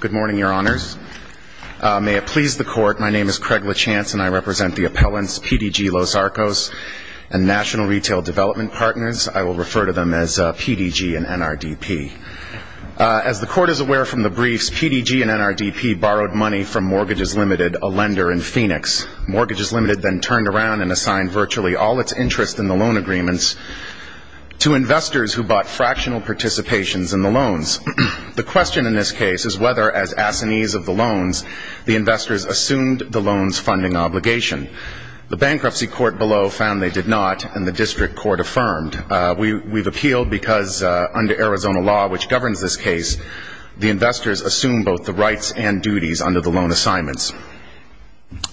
Good morning, your honors. May it please the court, my name is Craig LeChance and I represent the appellants, PDG Los Arcos and National Retail Development Partners. I will refer to them as PDG and NRDP. As the court is aware from the briefs, PDG and NRDP borrowed money from Mortgages Limited, a lender in Phoenix. Mortgages Limited then turned around and assigned virtually all its interest in the loan agreements to investors who bought fractional participations in the loans. The question in this case is whether, as assinees of the loans, the investors assumed the loans' funding obligation. The bankruptcy court below found they did not and the district court affirmed. We've appealed because under Arizona law, which governs this case, the investors assume both the rights and duties under the loan assignments.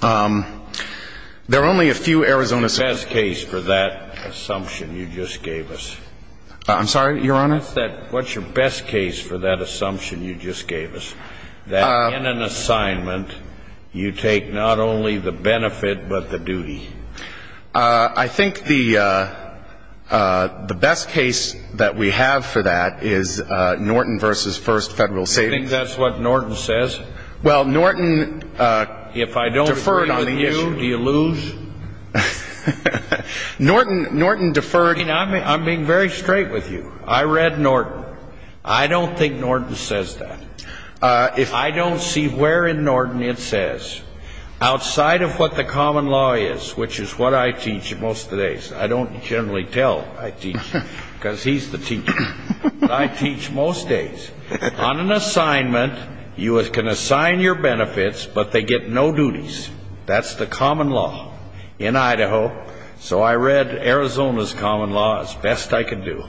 There are only a few Arizona... The best case for that assumption you just gave us. I'm sorry, your honor? What's your best case for that assumption you just gave us? That in an assignment, you take not only the benefit, but the duty. I think the best case that we have for that is Norton v. First Federal Savings. You think that's what Norton says? Well, Norton deferred on the issue. If I don't agree with you, do you lose? Norton deferred... I'm being very straight with you. I read Norton. I don't think Norton says that. I don't see where in Norton it says. Outside of what the common law is, which is what I teach most of the days. I don't generally tell I teach, because he's the teacher. I teach most days. On an assignment, you can assign your benefits, but they get no duties. That's the common law in Idaho. So I read Arizona's common law as best I can do.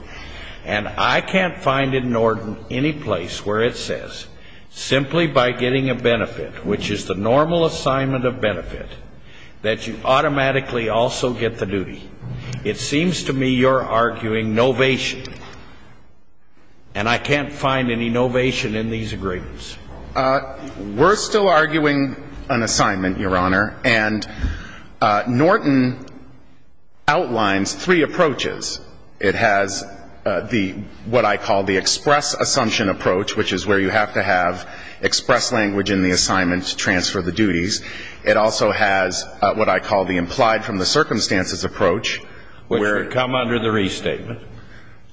And I can't find in Norton any place where it says, simply by getting a benefit, which is the normal assignment of benefit, that you automatically also get the duty. It seems to me you're arguing novation. And I can't find any novation in these agreements. We're still arguing an assignment, Your Honor. And Norton outlines three approaches. It has the, what I call the express assumption approach, which is where you have to have express language in the assignment to transfer the duties. It also has what I call the implied from the circumstances approach. Which would come under the restatement.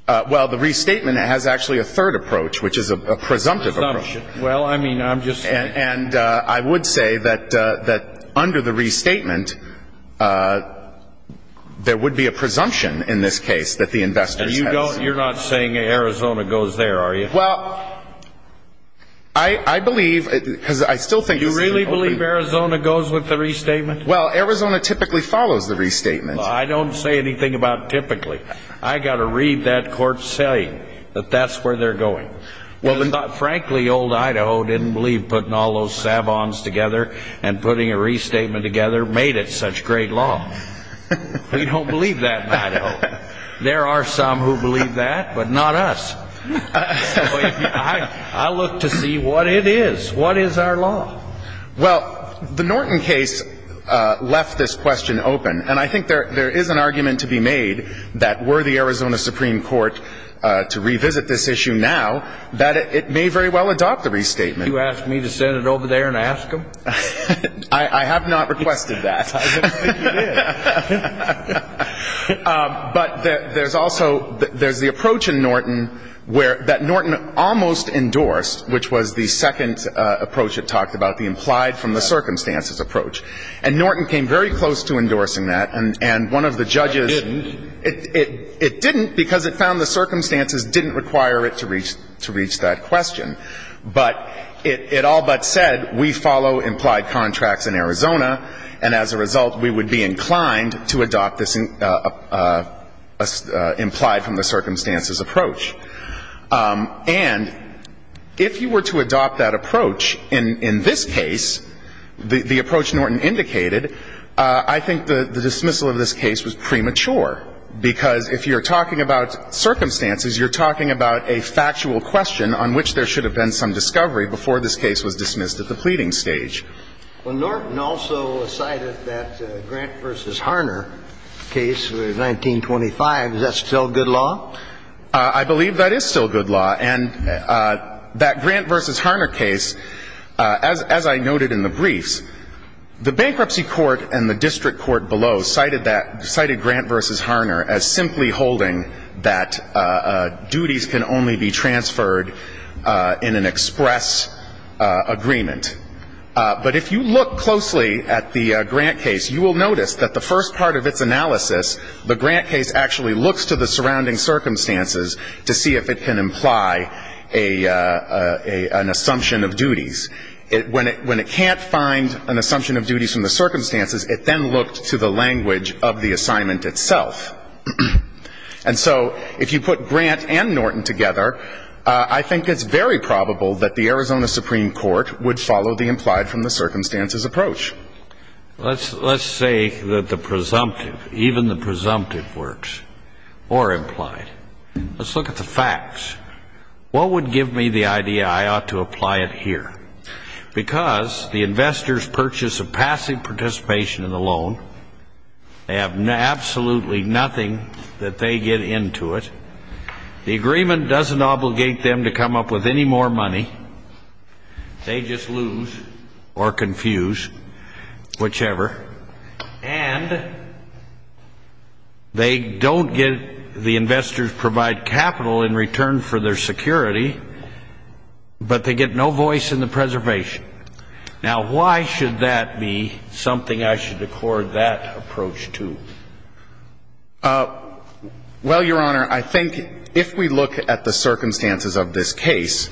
Well, the restatement has actually a third approach, which is a presumptive presumption. Well, I mean, I'm just saying. And I would say that under the restatement, there would be a presumption in this case that the investors have. And you don't, you're not saying Arizona goes there, are you? Well, I believe, because I still think... You really believe Arizona goes with the restatement? Well, Arizona typically follows the restatement. I don't say anything about typically. I got to read that court saying that that's where they're going. Frankly, old Idaho didn't believe putting all those savants together and putting a restatement together made it such great law. We don't believe that in Idaho. There are some who believe that, but not us. So I look to see what it is. What is our law? Well, the Norton case left this question open. And I think there is an argument to be made that were the Arizona Supreme Court to revisit this issue now, that it may very well adopt the restatement. You ask me to send it over there and ask them? I have not requested that. I don't think you did. But there's also, there's the approach in Norton where that Norton almost endorsed, which was the second approach it talked about, the implied from the circumstances approach. And Norton came very close to endorsing that. And one of the judges... It didn't. It didn't because it found the circumstances didn't require it to reach that question. But it all but said we follow implied contracts in Arizona, and as a result, we would be inclined to adopt this implied from the circumstances approach. And if you were to adopt that approach in this case, the approach Norton indicated, I think the dismissal of this case was premature. Because if you're talking about circumstances, you're talking about a factual question on which there should have been some discovery before this case was dismissed at the pleading stage. Well, Norton also cited that Grant v. Harner case of 1925. Is that still good law? I believe that is still good law. And that Grant v. Harner case, as I noted in the briefs, the bankruptcy court and the district court below cited that, cited Grant v. Harner as simply holding that duties can only be transferred in an express agreement. But if you look closely at the Grant case, you will notice that the first part of its analysis, the Grant case actually looks to the surrounding circumstances to see if it can imply an assumption of duties. When it can't find an assumption of duties from the circumstances, it then looked to the language of the assignment itself. And so if you put Grant and Norton together, I think it's very probable that the Arizona Supreme Court would follow the implied from the circumstances approach. Let's say that the presumptive, even the presumptive works, or implied. Let's look at the facts. What would give me the idea I ought to apply it here? Because the investors purchase a passive participation in the loan. They have absolutely nothing that they get into it. The agreement doesn't obligate them to come up with any more money. They just lose or confuse, whichever. And they don't get the investors provide capital in return for their security, but they get no voice in the preservation. Now, why should that be something I should accord that approach to? Well, Your Honor, I think if we look at the circumstances of this case,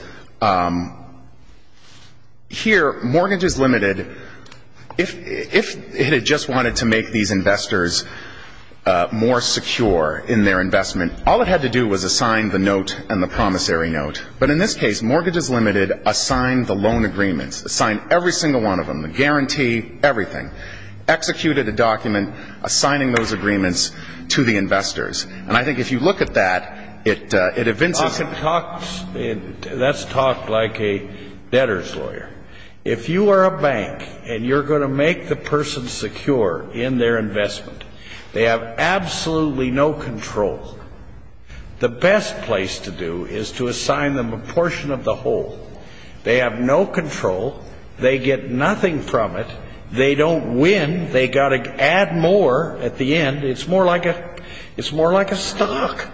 here, mortgage is limited. If it had just wanted to make these investors more secure in their investment, all it had to do was assign the note and the promissory note. But in this case, mortgages limited assigned the loan agreements, assigned every single one of them, the guarantee, everything, executed a document assigning those agreements to the investors. And I think if you look at that, it evinces the... That's talked like a debtor's lawyer. If you are a bank and you're going to make the person secure in their investment, they have absolutely no control. The best place to do is to assign them a portion of the whole. They have no control. They get nothing from it. They don't win. They got to add more at the end. It's more like a stock.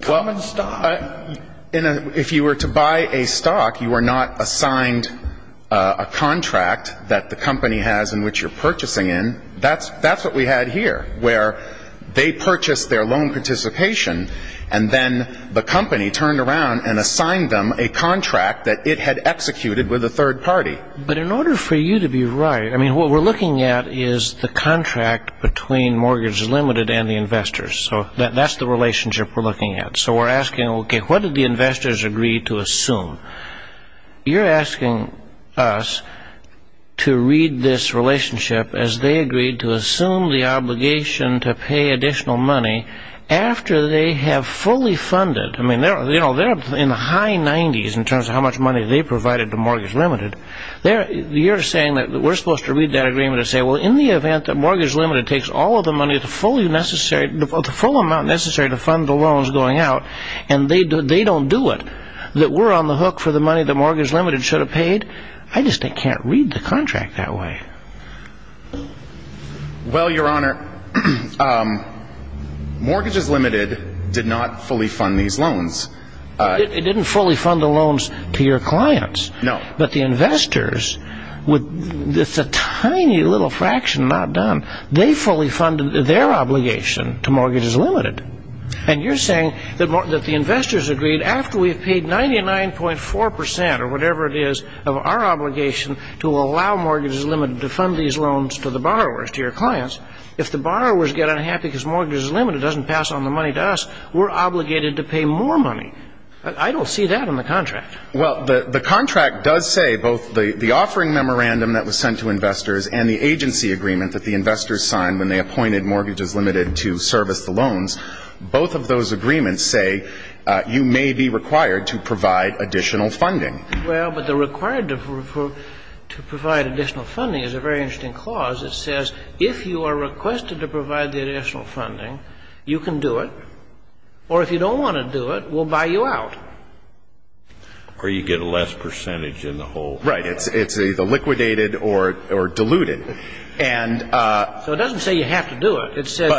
Common stock. If you were to buy a stock, you are not assigned a contract that the company has in which you're purchasing in. That's what we had here, where they purchased their loan participation, and then the company turned around and assigned them a contract that it had executed with a third party. But in order for you to be right, I mean, what we're looking at is the contract between mortgage is limited and the investors. So that's the relationship we're looking at. So we're asking, okay, what did the investors agree to assume? You're asking us to read this relationship as they agreed to assume the obligation to pay additional money after they have fully funded. I mean, they're in the high 90s in terms of how much money they provided to mortgage limited. You're saying that we're supposed to read that agreement and say, well, in the event that mortgage limited takes all of the money, the full amount necessary to fund the loans going out, and they don't do it, that we're on the hook for the money that mortgage limited should have paid? I just can't read the contract that way. Well, Your Honor, mortgages limited did not fully fund these loans. It didn't fully fund the loans to your clients. No. But the investors, with just a tiny little fraction not done, they fully funded their obligation to mortgages limited. And you're saying that the investors agreed after we've paid 99.4 percent or whatever it is of our obligation to allow mortgages limited to fund these loans to the borrowers, to your clients. If the borrowers get unhappy because mortgages limited doesn't pass on the money to us, we're obligated to pay more money. I don't see that in the contract. Well, the contract does say both the offering memorandum that was sent to investors and the agency agreement that the investors signed when they appointed mortgages limited to service the loans, both of those agreements say you may be required to provide additional funding. Well, but the required to provide additional funding is a very interesting clause. It says if you are requested to provide the additional funding, you can do it, or if you don't want to do it, we'll buy you out. Or you get a less percentage in the whole. Right. It's either liquidated or diluted. So it doesn't say you have to do it. It says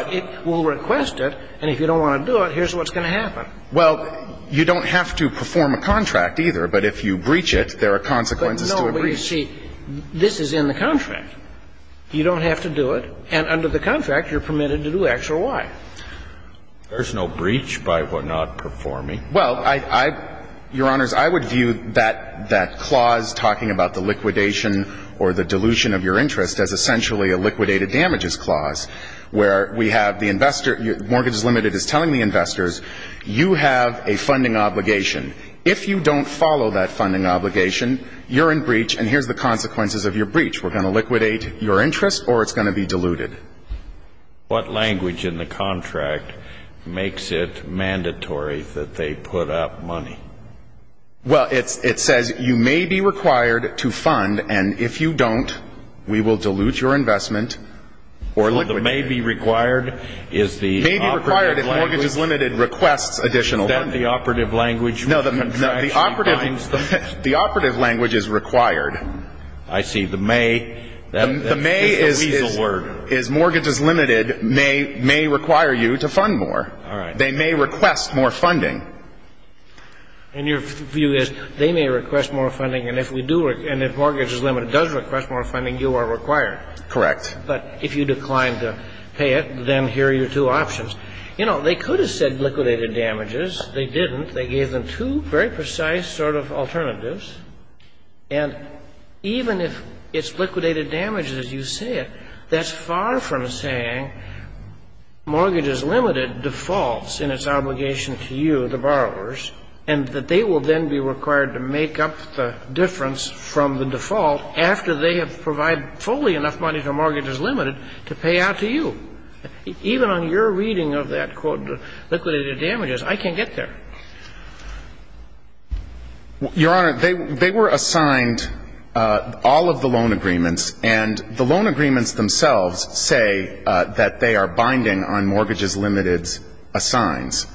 we'll request it, and if you don't want to do it, here's what's going to happen. Well, you don't have to perform a contract either, but if you breach it, there are consequences to a breach. No, but you see, this is in the contract. You don't have to do it, and under the contract, you're permitted to do X or Y. There's no breach by what not performing. Well, Your Honors, I would view that clause talking about the liquidation or the dilution of your interest as essentially a liquidated damages clause, where we have the investor, mortgages limited is telling the investors, you have a funding obligation. If you don't follow that funding obligation, you're in breach, and here's the consequences of your breach. We're going to liquidate your interest, or it's going to be diluted. What language in the contract makes it mandatory that they put up money? Well, it says you may be required to fund, and if you don't, we will dilute your investment or liquidate it. So the may be required is the operative language. May be required if mortgages limited requests additional funding. Is that the operative language? No, the operative language is required. I see. The may is mortgages limited may require you to fund more. They may request more funding. And your view is they may request more funding, and if mortgages limited does request more funding, you are required. Correct. But if you decline to pay it, then here are your two options. You know, they could have said liquidated damages. They didn't. They gave them two very precise sort of alternatives. And even if it's liquidated damages, as you say it, that's far from saying mortgages limited defaults in its obligation to you, the borrowers, and that they will then be required to make up the difference from the default after they have provided fully enough money to mortgages limited to pay out to you. Even on your reading of that quote, liquidated damages, I can't get there. Your Honor, they were assigned all of the loan agreements, and the loan agreements themselves say that they are binding on mortgages limited's assigns.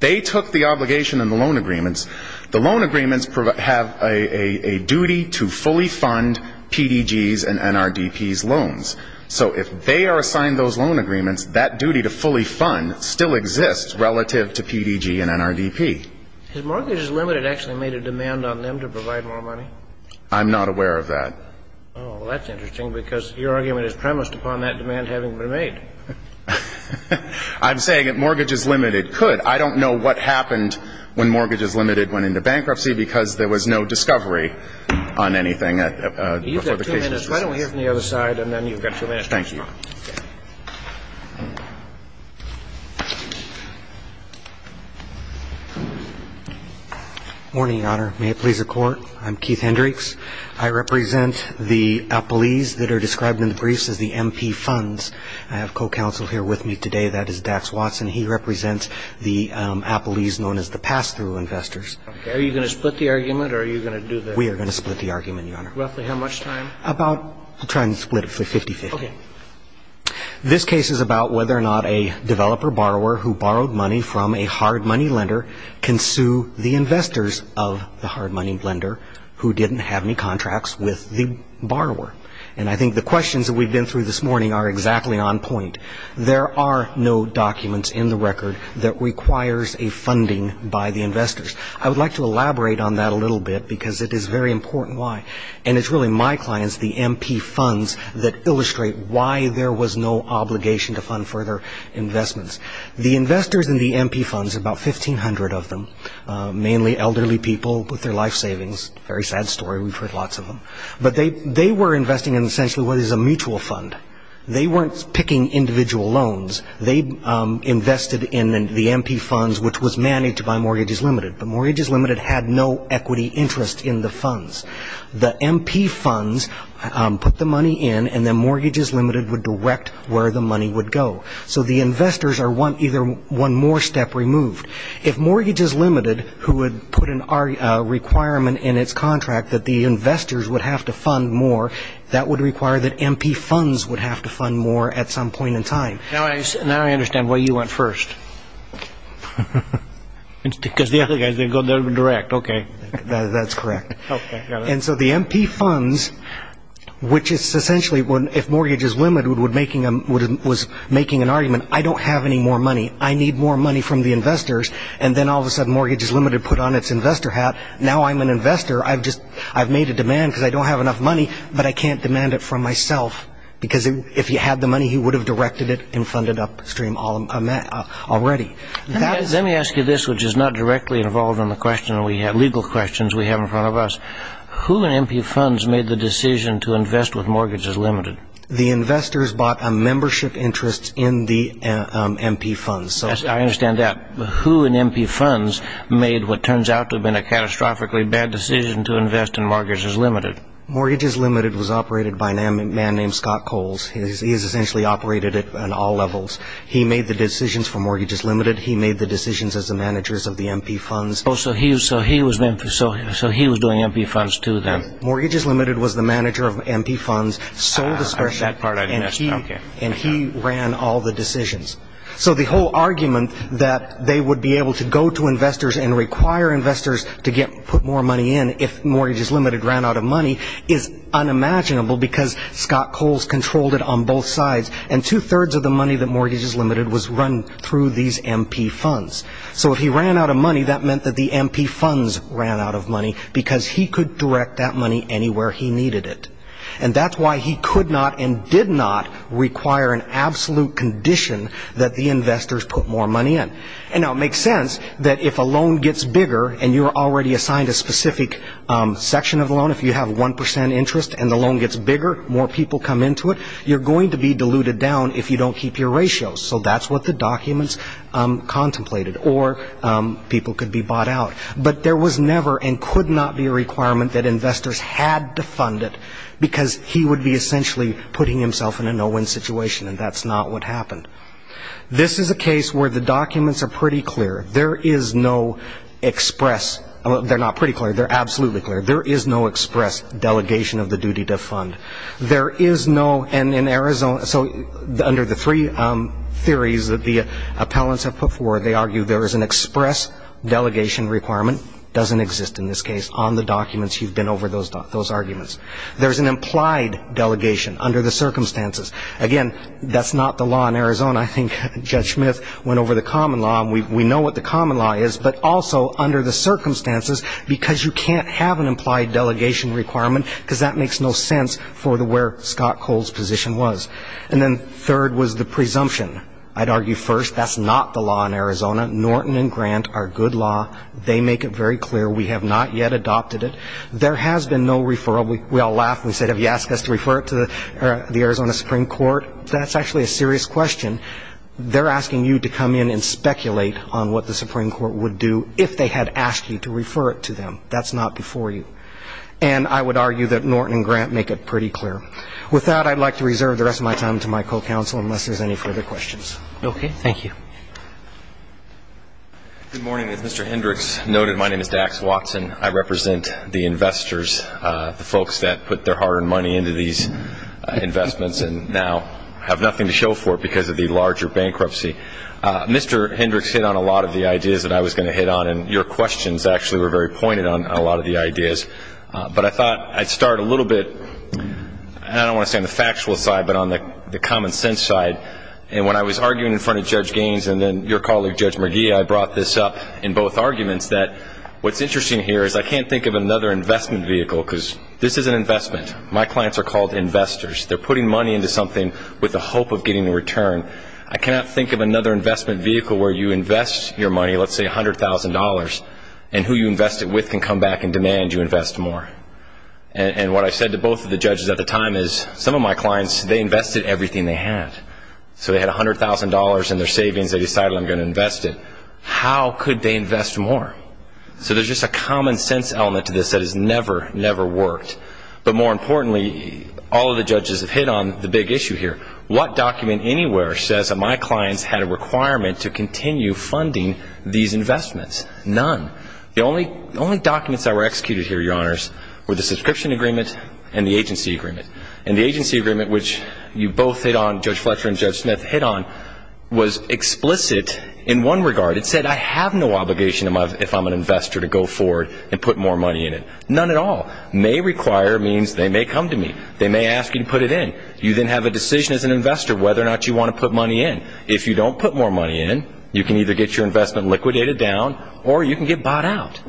They took the obligation in the loan agreements. The loan agreements have a duty to fully fund PDG's and NRDP's loans. So if they are assigned those loan agreements, that duty to fully fund still exists relative to PDG and NRDP. Has mortgages limited actually made a demand on them to provide more money? I'm not aware of that. Oh, well, that's interesting because your argument is premised upon that demand having been made. I'm saying that mortgages limited could. I don't know what happened when mortgages limited went into bankruptcy because there was no discovery on anything before the case was resolved. You've got two minutes. Why don't we hear from the other side, and then you've got two minutes to respond. Thank you. Morning, Your Honor. May it please the Court. I'm Keith Hendricks. I represent the appellees that are described in the briefs as the MP funds. I have co-counsel here with me today. That is Dax Watson. He represents the appellees known as the pass-through investors. Are you going to split the argument, or are you going to do the other? We are going to split the argument, Your Honor. Roughly how much time? About we'll try and split it for 50-50. Okay. This case is about whether or not a developer borrower who borrowed money from a hard money lender can sue the investors of the hard money lender who didn't have any contracts with the borrower. And I think the questions that we've been through this morning are exactly on point. There are no documents in the record that requires a funding by the investors. I would like to elaborate on that a little bit because it is very important why. And it's really my clients, the MP funds, that illustrate why there was no obligation to fund further investments. The investors in the MP funds, about 1,500 of them, mainly elderly people with their life savings. Very sad story. We've heard lots of them. But they were investing in essentially what is a mutual fund. They weren't picking individual loans. They invested in the MP funds, which was managed by Mortgages Limited. But Mortgages Limited had no equity interest in the funds. The MP funds put the money in, and then Mortgages Limited would direct where the money would go. So the investors are either one more step removed. If Mortgages Limited, who would put a requirement in its contract that the investors would have to fund more, that would require that MP funds would have to fund more at some point in time. Now I understand why you went first. Because the other guys, they go direct. Okay. That's correct. Okay, got it. And so the MP funds, which is essentially if Mortgages Limited was making an argument, I don't have any more money, I need more money from the investors, and then all of a sudden Mortgages Limited put on its investor hat, now I'm an investor, I've made a demand because I don't have enough money, but I can't demand it from myself. Because if he had the money, he would have directed it and funded upstream already. Let me ask you this, which is not directly involved in the legal questions we have in front of us. Who in MP funds made the decision to invest with Mortgages Limited? The investors bought a membership interest in the MP funds. I understand that. Who in MP funds made what turns out to have been a catastrophically bad decision to invest in Mortgages Limited? Mortgages Limited was operated by a man named Scott Coles. He has essentially operated it on all levels. He made the decisions for Mortgages Limited. He made the decisions as the managers of the MP funds. So he was doing MP funds too then? Mortgages Limited was the manager of MP funds. I missed that part. And he ran all the decisions. So the whole argument that they would be able to go to investors and require investors to put more money in if Mortgages Limited ran out of money is unimaginable because Scott Coles controlled it on both sides. And two-thirds of the money that Mortgages Limited was run through these MP funds. So if he ran out of money, that meant that the MP funds ran out of money because he could direct that money anywhere he needed it. And that's why he could not and did not require an absolute condition that the investors put more money in. And now it makes sense that if a loan gets bigger and you're already assigned a specific section of the loan, if you have 1% interest and the loan gets bigger, more people come into it, you're going to be diluted down if you don't keep your ratios. So that's what the documents contemplated. Or people could be bought out. But there was never and could not be a requirement that investors had to fund it because he would be essentially putting himself in a no-win situation, and that's not what happened. This is a case where the documents are pretty clear. There is no express. They're not pretty clear. They're absolutely clear. There is no express delegation of the duty to fund. There is no, and in Arizona, so under the three theories that the appellants have put forward, they argue there is an express delegation requirement. It doesn't exist in this case. On the documents, you've been over those arguments. There's an implied delegation under the circumstances. Again, that's not the law in Arizona. I think Judge Smith went over the common law, and we know what the common law is, but also under the circumstances because you can't have an implied delegation requirement because that makes no sense for where Scott Cole's position was. And then third was the presumption. I'd argue first that's not the law in Arizona. Norton and Grant are good law. They make it very clear. We have not yet adopted it. There has been no referral. We all laughed and said, have you asked us to refer it to the Arizona Supreme Court? That's actually a serious question. They're asking you to come in and speculate on what the Supreme Court would do if they had asked you to refer it to them. That's not before you. And I would argue that Norton and Grant make it pretty clear. With that, I'd like to reserve the rest of my time to my co-counsel unless there's any further questions. Okay. Thank you. Good morning. As Mr. Hendricks noted, my name is Dax Watson. I represent the investors, the folks that put their hard-earned money into these investments and now have nothing to show for it because of the larger bankruptcy. Mr. Hendricks hit on a lot of the ideas that I was going to hit on, and your questions actually were very pointed on a lot of the ideas. But I thought I'd start a little bit, I don't want to say on the factual side, but on the common sense side. And when I was arguing in front of Judge Gaines and then your colleague, Judge McGee, I brought this up in both arguments that what's interesting here is I can't think of another investment vehicle because this is an investment. My clients are called investors. They're putting money into something with the hope of getting a return. I cannot think of another investment vehicle where you invest your money, let's say $100,000, and who you invest it with can come back and demand you invest more. And what I said to both of the judges at the time is some of my clients, they invested everything they had. So they had $100,000 in their savings. They decided I'm going to invest it. How could they invest more? So there's just a common sense element to this that has never, never worked. But more importantly, all of the judges have hit on the big issue here. What document anywhere says that my clients had a requirement to continue funding these investments? None. The only documents that were executed here, Your Honors, were the subscription agreement and the agency agreement. And the agency agreement, which you both hit on, Judge Fletcher and Judge Smith hit on, was explicit in one regard. It said I have no obligation if I'm an investor to go forward and put more money in it. None at all. May require means they may come to me. They may ask you to put it in. You then have a decision as an investor whether or not you want to put money in. If you don't put more money in, you can either get your investment liquidated down or you can get bought out.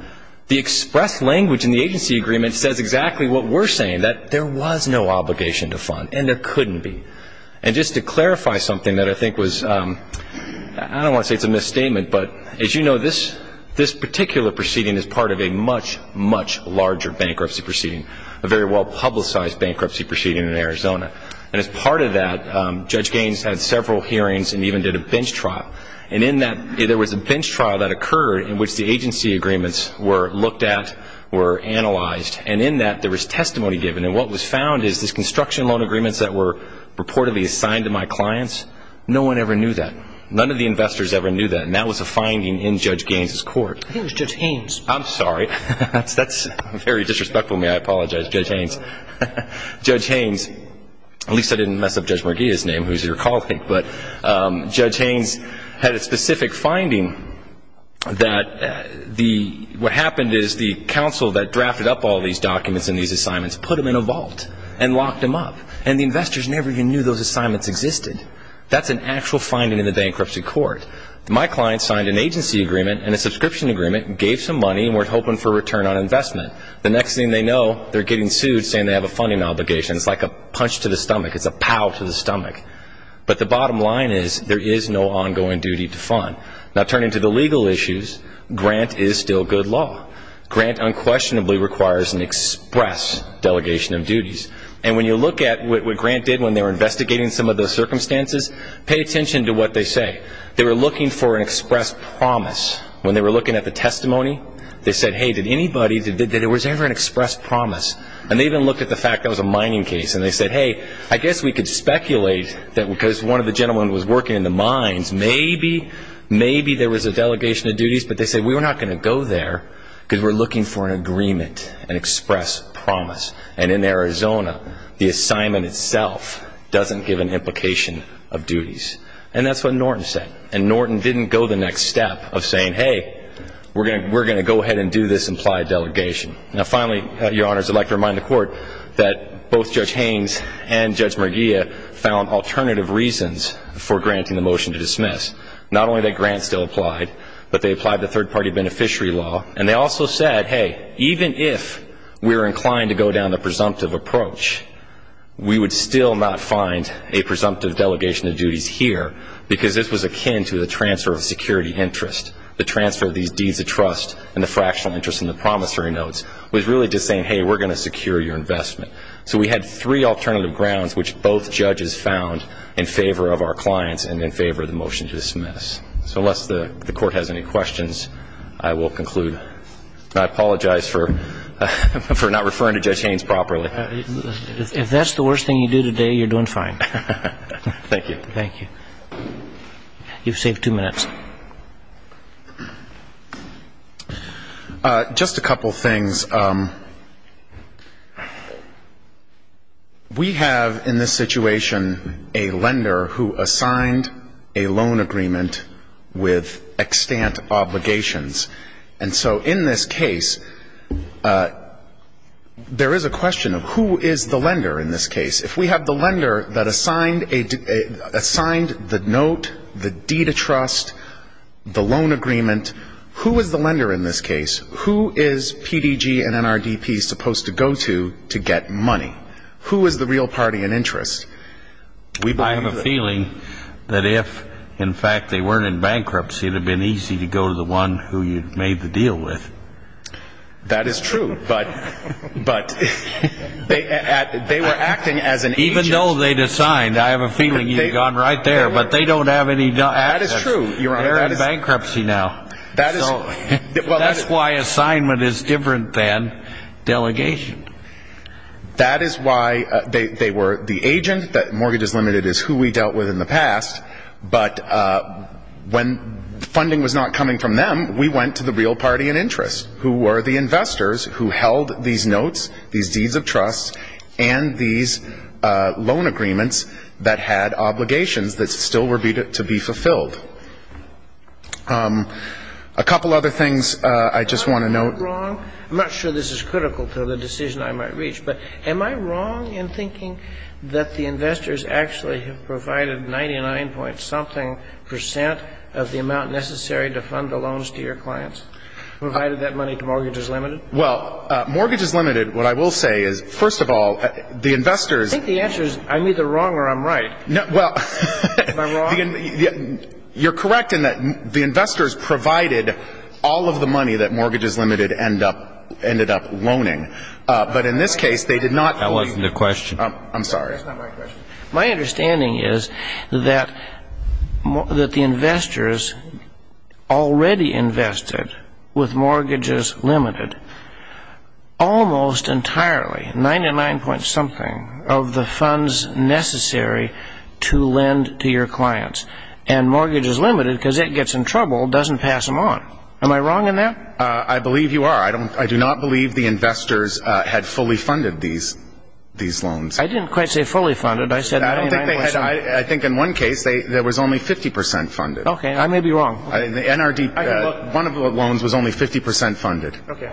The express language in the agency agreement says exactly what we're saying, that there was no obligation to fund. And there couldn't be. And just to clarify something that I think was, I don't want to say it's a misstatement, but as you know, this particular proceeding is part of a much, much larger bankruptcy proceeding, a very well-publicized bankruptcy proceeding in Arizona. And as part of that, Judge Gaines had several hearings and even did a bench trial. And in that, there was a bench trial that occurred in which the agency agreements were looked at, were analyzed. And in that, there was testimony given. And what was found is these construction loan agreements that were reportedly assigned to my clients, no one ever knew that. None of the investors ever knew that. And that was a finding in Judge Gaines's court. I think it was Judge Haynes. I'm sorry. That's very disrespectful of me. I apologize, Judge Haynes. Judge Haynes, at least I didn't mess up Judge Merguia's name, who's your colleague, but Judge Haynes had a specific finding that what happened is the counsel that drafted up all these documents and these assignments put them in a vault and locked them up. And the investors never even knew those assignments existed. That's an actual finding in the bankruptcy court. My client signed an agency agreement and a subscription agreement and gave some money and weren't hoping for a return on investment. The next thing they know, they're getting sued saying they have a funding obligation. It's like a punch to the stomach. It's a pow to the stomach. But the bottom line is there is no ongoing duty to fund. Now, turning to the legal issues, Grant is still good law. Grant unquestionably requires an express delegation of duties. And when you look at what Grant did when they were investigating some of the circumstances, pay attention to what they say. They were looking for an express promise. When they were looking at the testimony, they said, hey, did anybody, was there ever an express promise? And they even looked at the fact that it was a mining case, and they said, hey, I guess we could speculate that because one of the gentlemen was working in the mines, maybe, maybe there was a delegation of duties, but they said we were not going to go there because we're looking for an agreement, an express promise. And in Arizona, the assignment itself doesn't give an implication of duties. And that's what Norton said. And Norton didn't go the next step of saying, hey, we're going to go ahead and do this implied delegation. Now, finally, Your Honors, I'd like to remind the Court that both Judge Haynes and Judge Merguia found alternative reasons for granting the motion to dismiss. Not only that Grant still applied, but they applied the third-party beneficiary law. And they also said, hey, even if we're inclined to go down the presumptive approach, we would still not find a presumptive delegation of duties here because this was akin to the transfer of security interest. The transfer of these deeds of trust and the fractional interest in the promissory notes was really just saying, hey, we're going to secure your investment. So we had three alternative grounds which both judges found in favor of our clients and in favor of the motion to dismiss. So unless the Court has any questions, I will conclude. I apologize for not referring to Judge Haynes properly. If that's the worst thing you do today, you're doing fine. Thank you. Thank you. You've saved two minutes. Just a couple things. First, we have in this situation a lender who assigned a loan agreement with extant obligations. And so in this case, there is a question of who is the lender in this case. If we have the lender that assigned the note, the deed of trust, the loan agreement, who is the lender in this case? Who is PDG and NRDP supposed to go to to get money? Who is the real party in interest? I have a feeling that if, in fact, they weren't in bankruptcy, it would have been easy to go to the one who you made the deal with. That is true, but they were acting as an agent. Even though they'd assigned, I have a feeling you'd have gone right there, but they don't have any assets. That is true, Your Honor. They're in bankruptcy now. That's why assignment is different than delegation. That is why they were the agent. That mortgage is limited is who we dealt with in the past. But when funding was not coming from them, we went to the real party in interest, who were the investors who held these notes, these deeds of trust, and these loan agreements that had obligations that still were to be fulfilled. A couple other things I just want to note. Am I wrong? I'm not sure this is critical to the decision I might reach, but am I wrong in thinking that the investors actually have provided 99-point-something percent of the amount necessary to fund the loans to your clients, provided that money to Mortgage is Limited? Well, Mortgage is Limited, what I will say is, first of all, the investors I think the answer is I'm either wrong or I'm right. Am I wrong? You're correct in that the investors provided all of the money that Mortgage is Limited ended up loaning. But in this case, they did not That wasn't the question. I'm sorry. That's not my question. My understanding is that the investors already invested with Mortgage is Limited almost entirely, 99-point-something, of the funds necessary to lend to your clients. And Mortgage is Limited, because it gets in trouble, doesn't pass them on. Am I wrong in that? I believe you are. I do not believe the investors had fully funded these loans. I didn't quite say fully funded. I said 99-point-something. I think in one case there was only 50 percent funded. Okay. I may be wrong. The NRD, one of the loans was only 50 percent funded. Okay.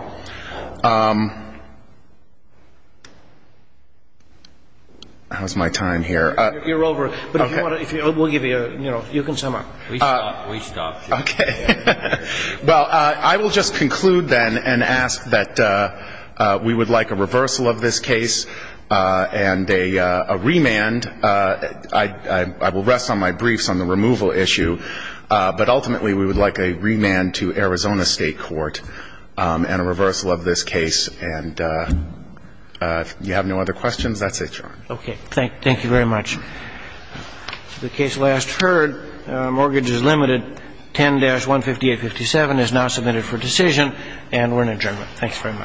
How's my time here? You're over. Okay. But if you want to, we'll give you, you know, you can sum up. Please stop. Please stop. Okay. Well, I will just conclude then and ask that we would like a reversal of this case and a remand. I will rest on my briefs on the removal issue. But ultimately, we would like a remand to Arizona State Court and a reversal of this case. And if you have no other questions, that's it, Your Honor. Okay. Thank you very much. The case last heard, mortgage is limited. 10-15857 is now submitted for decision. And we're in adjournment. Thanks very much.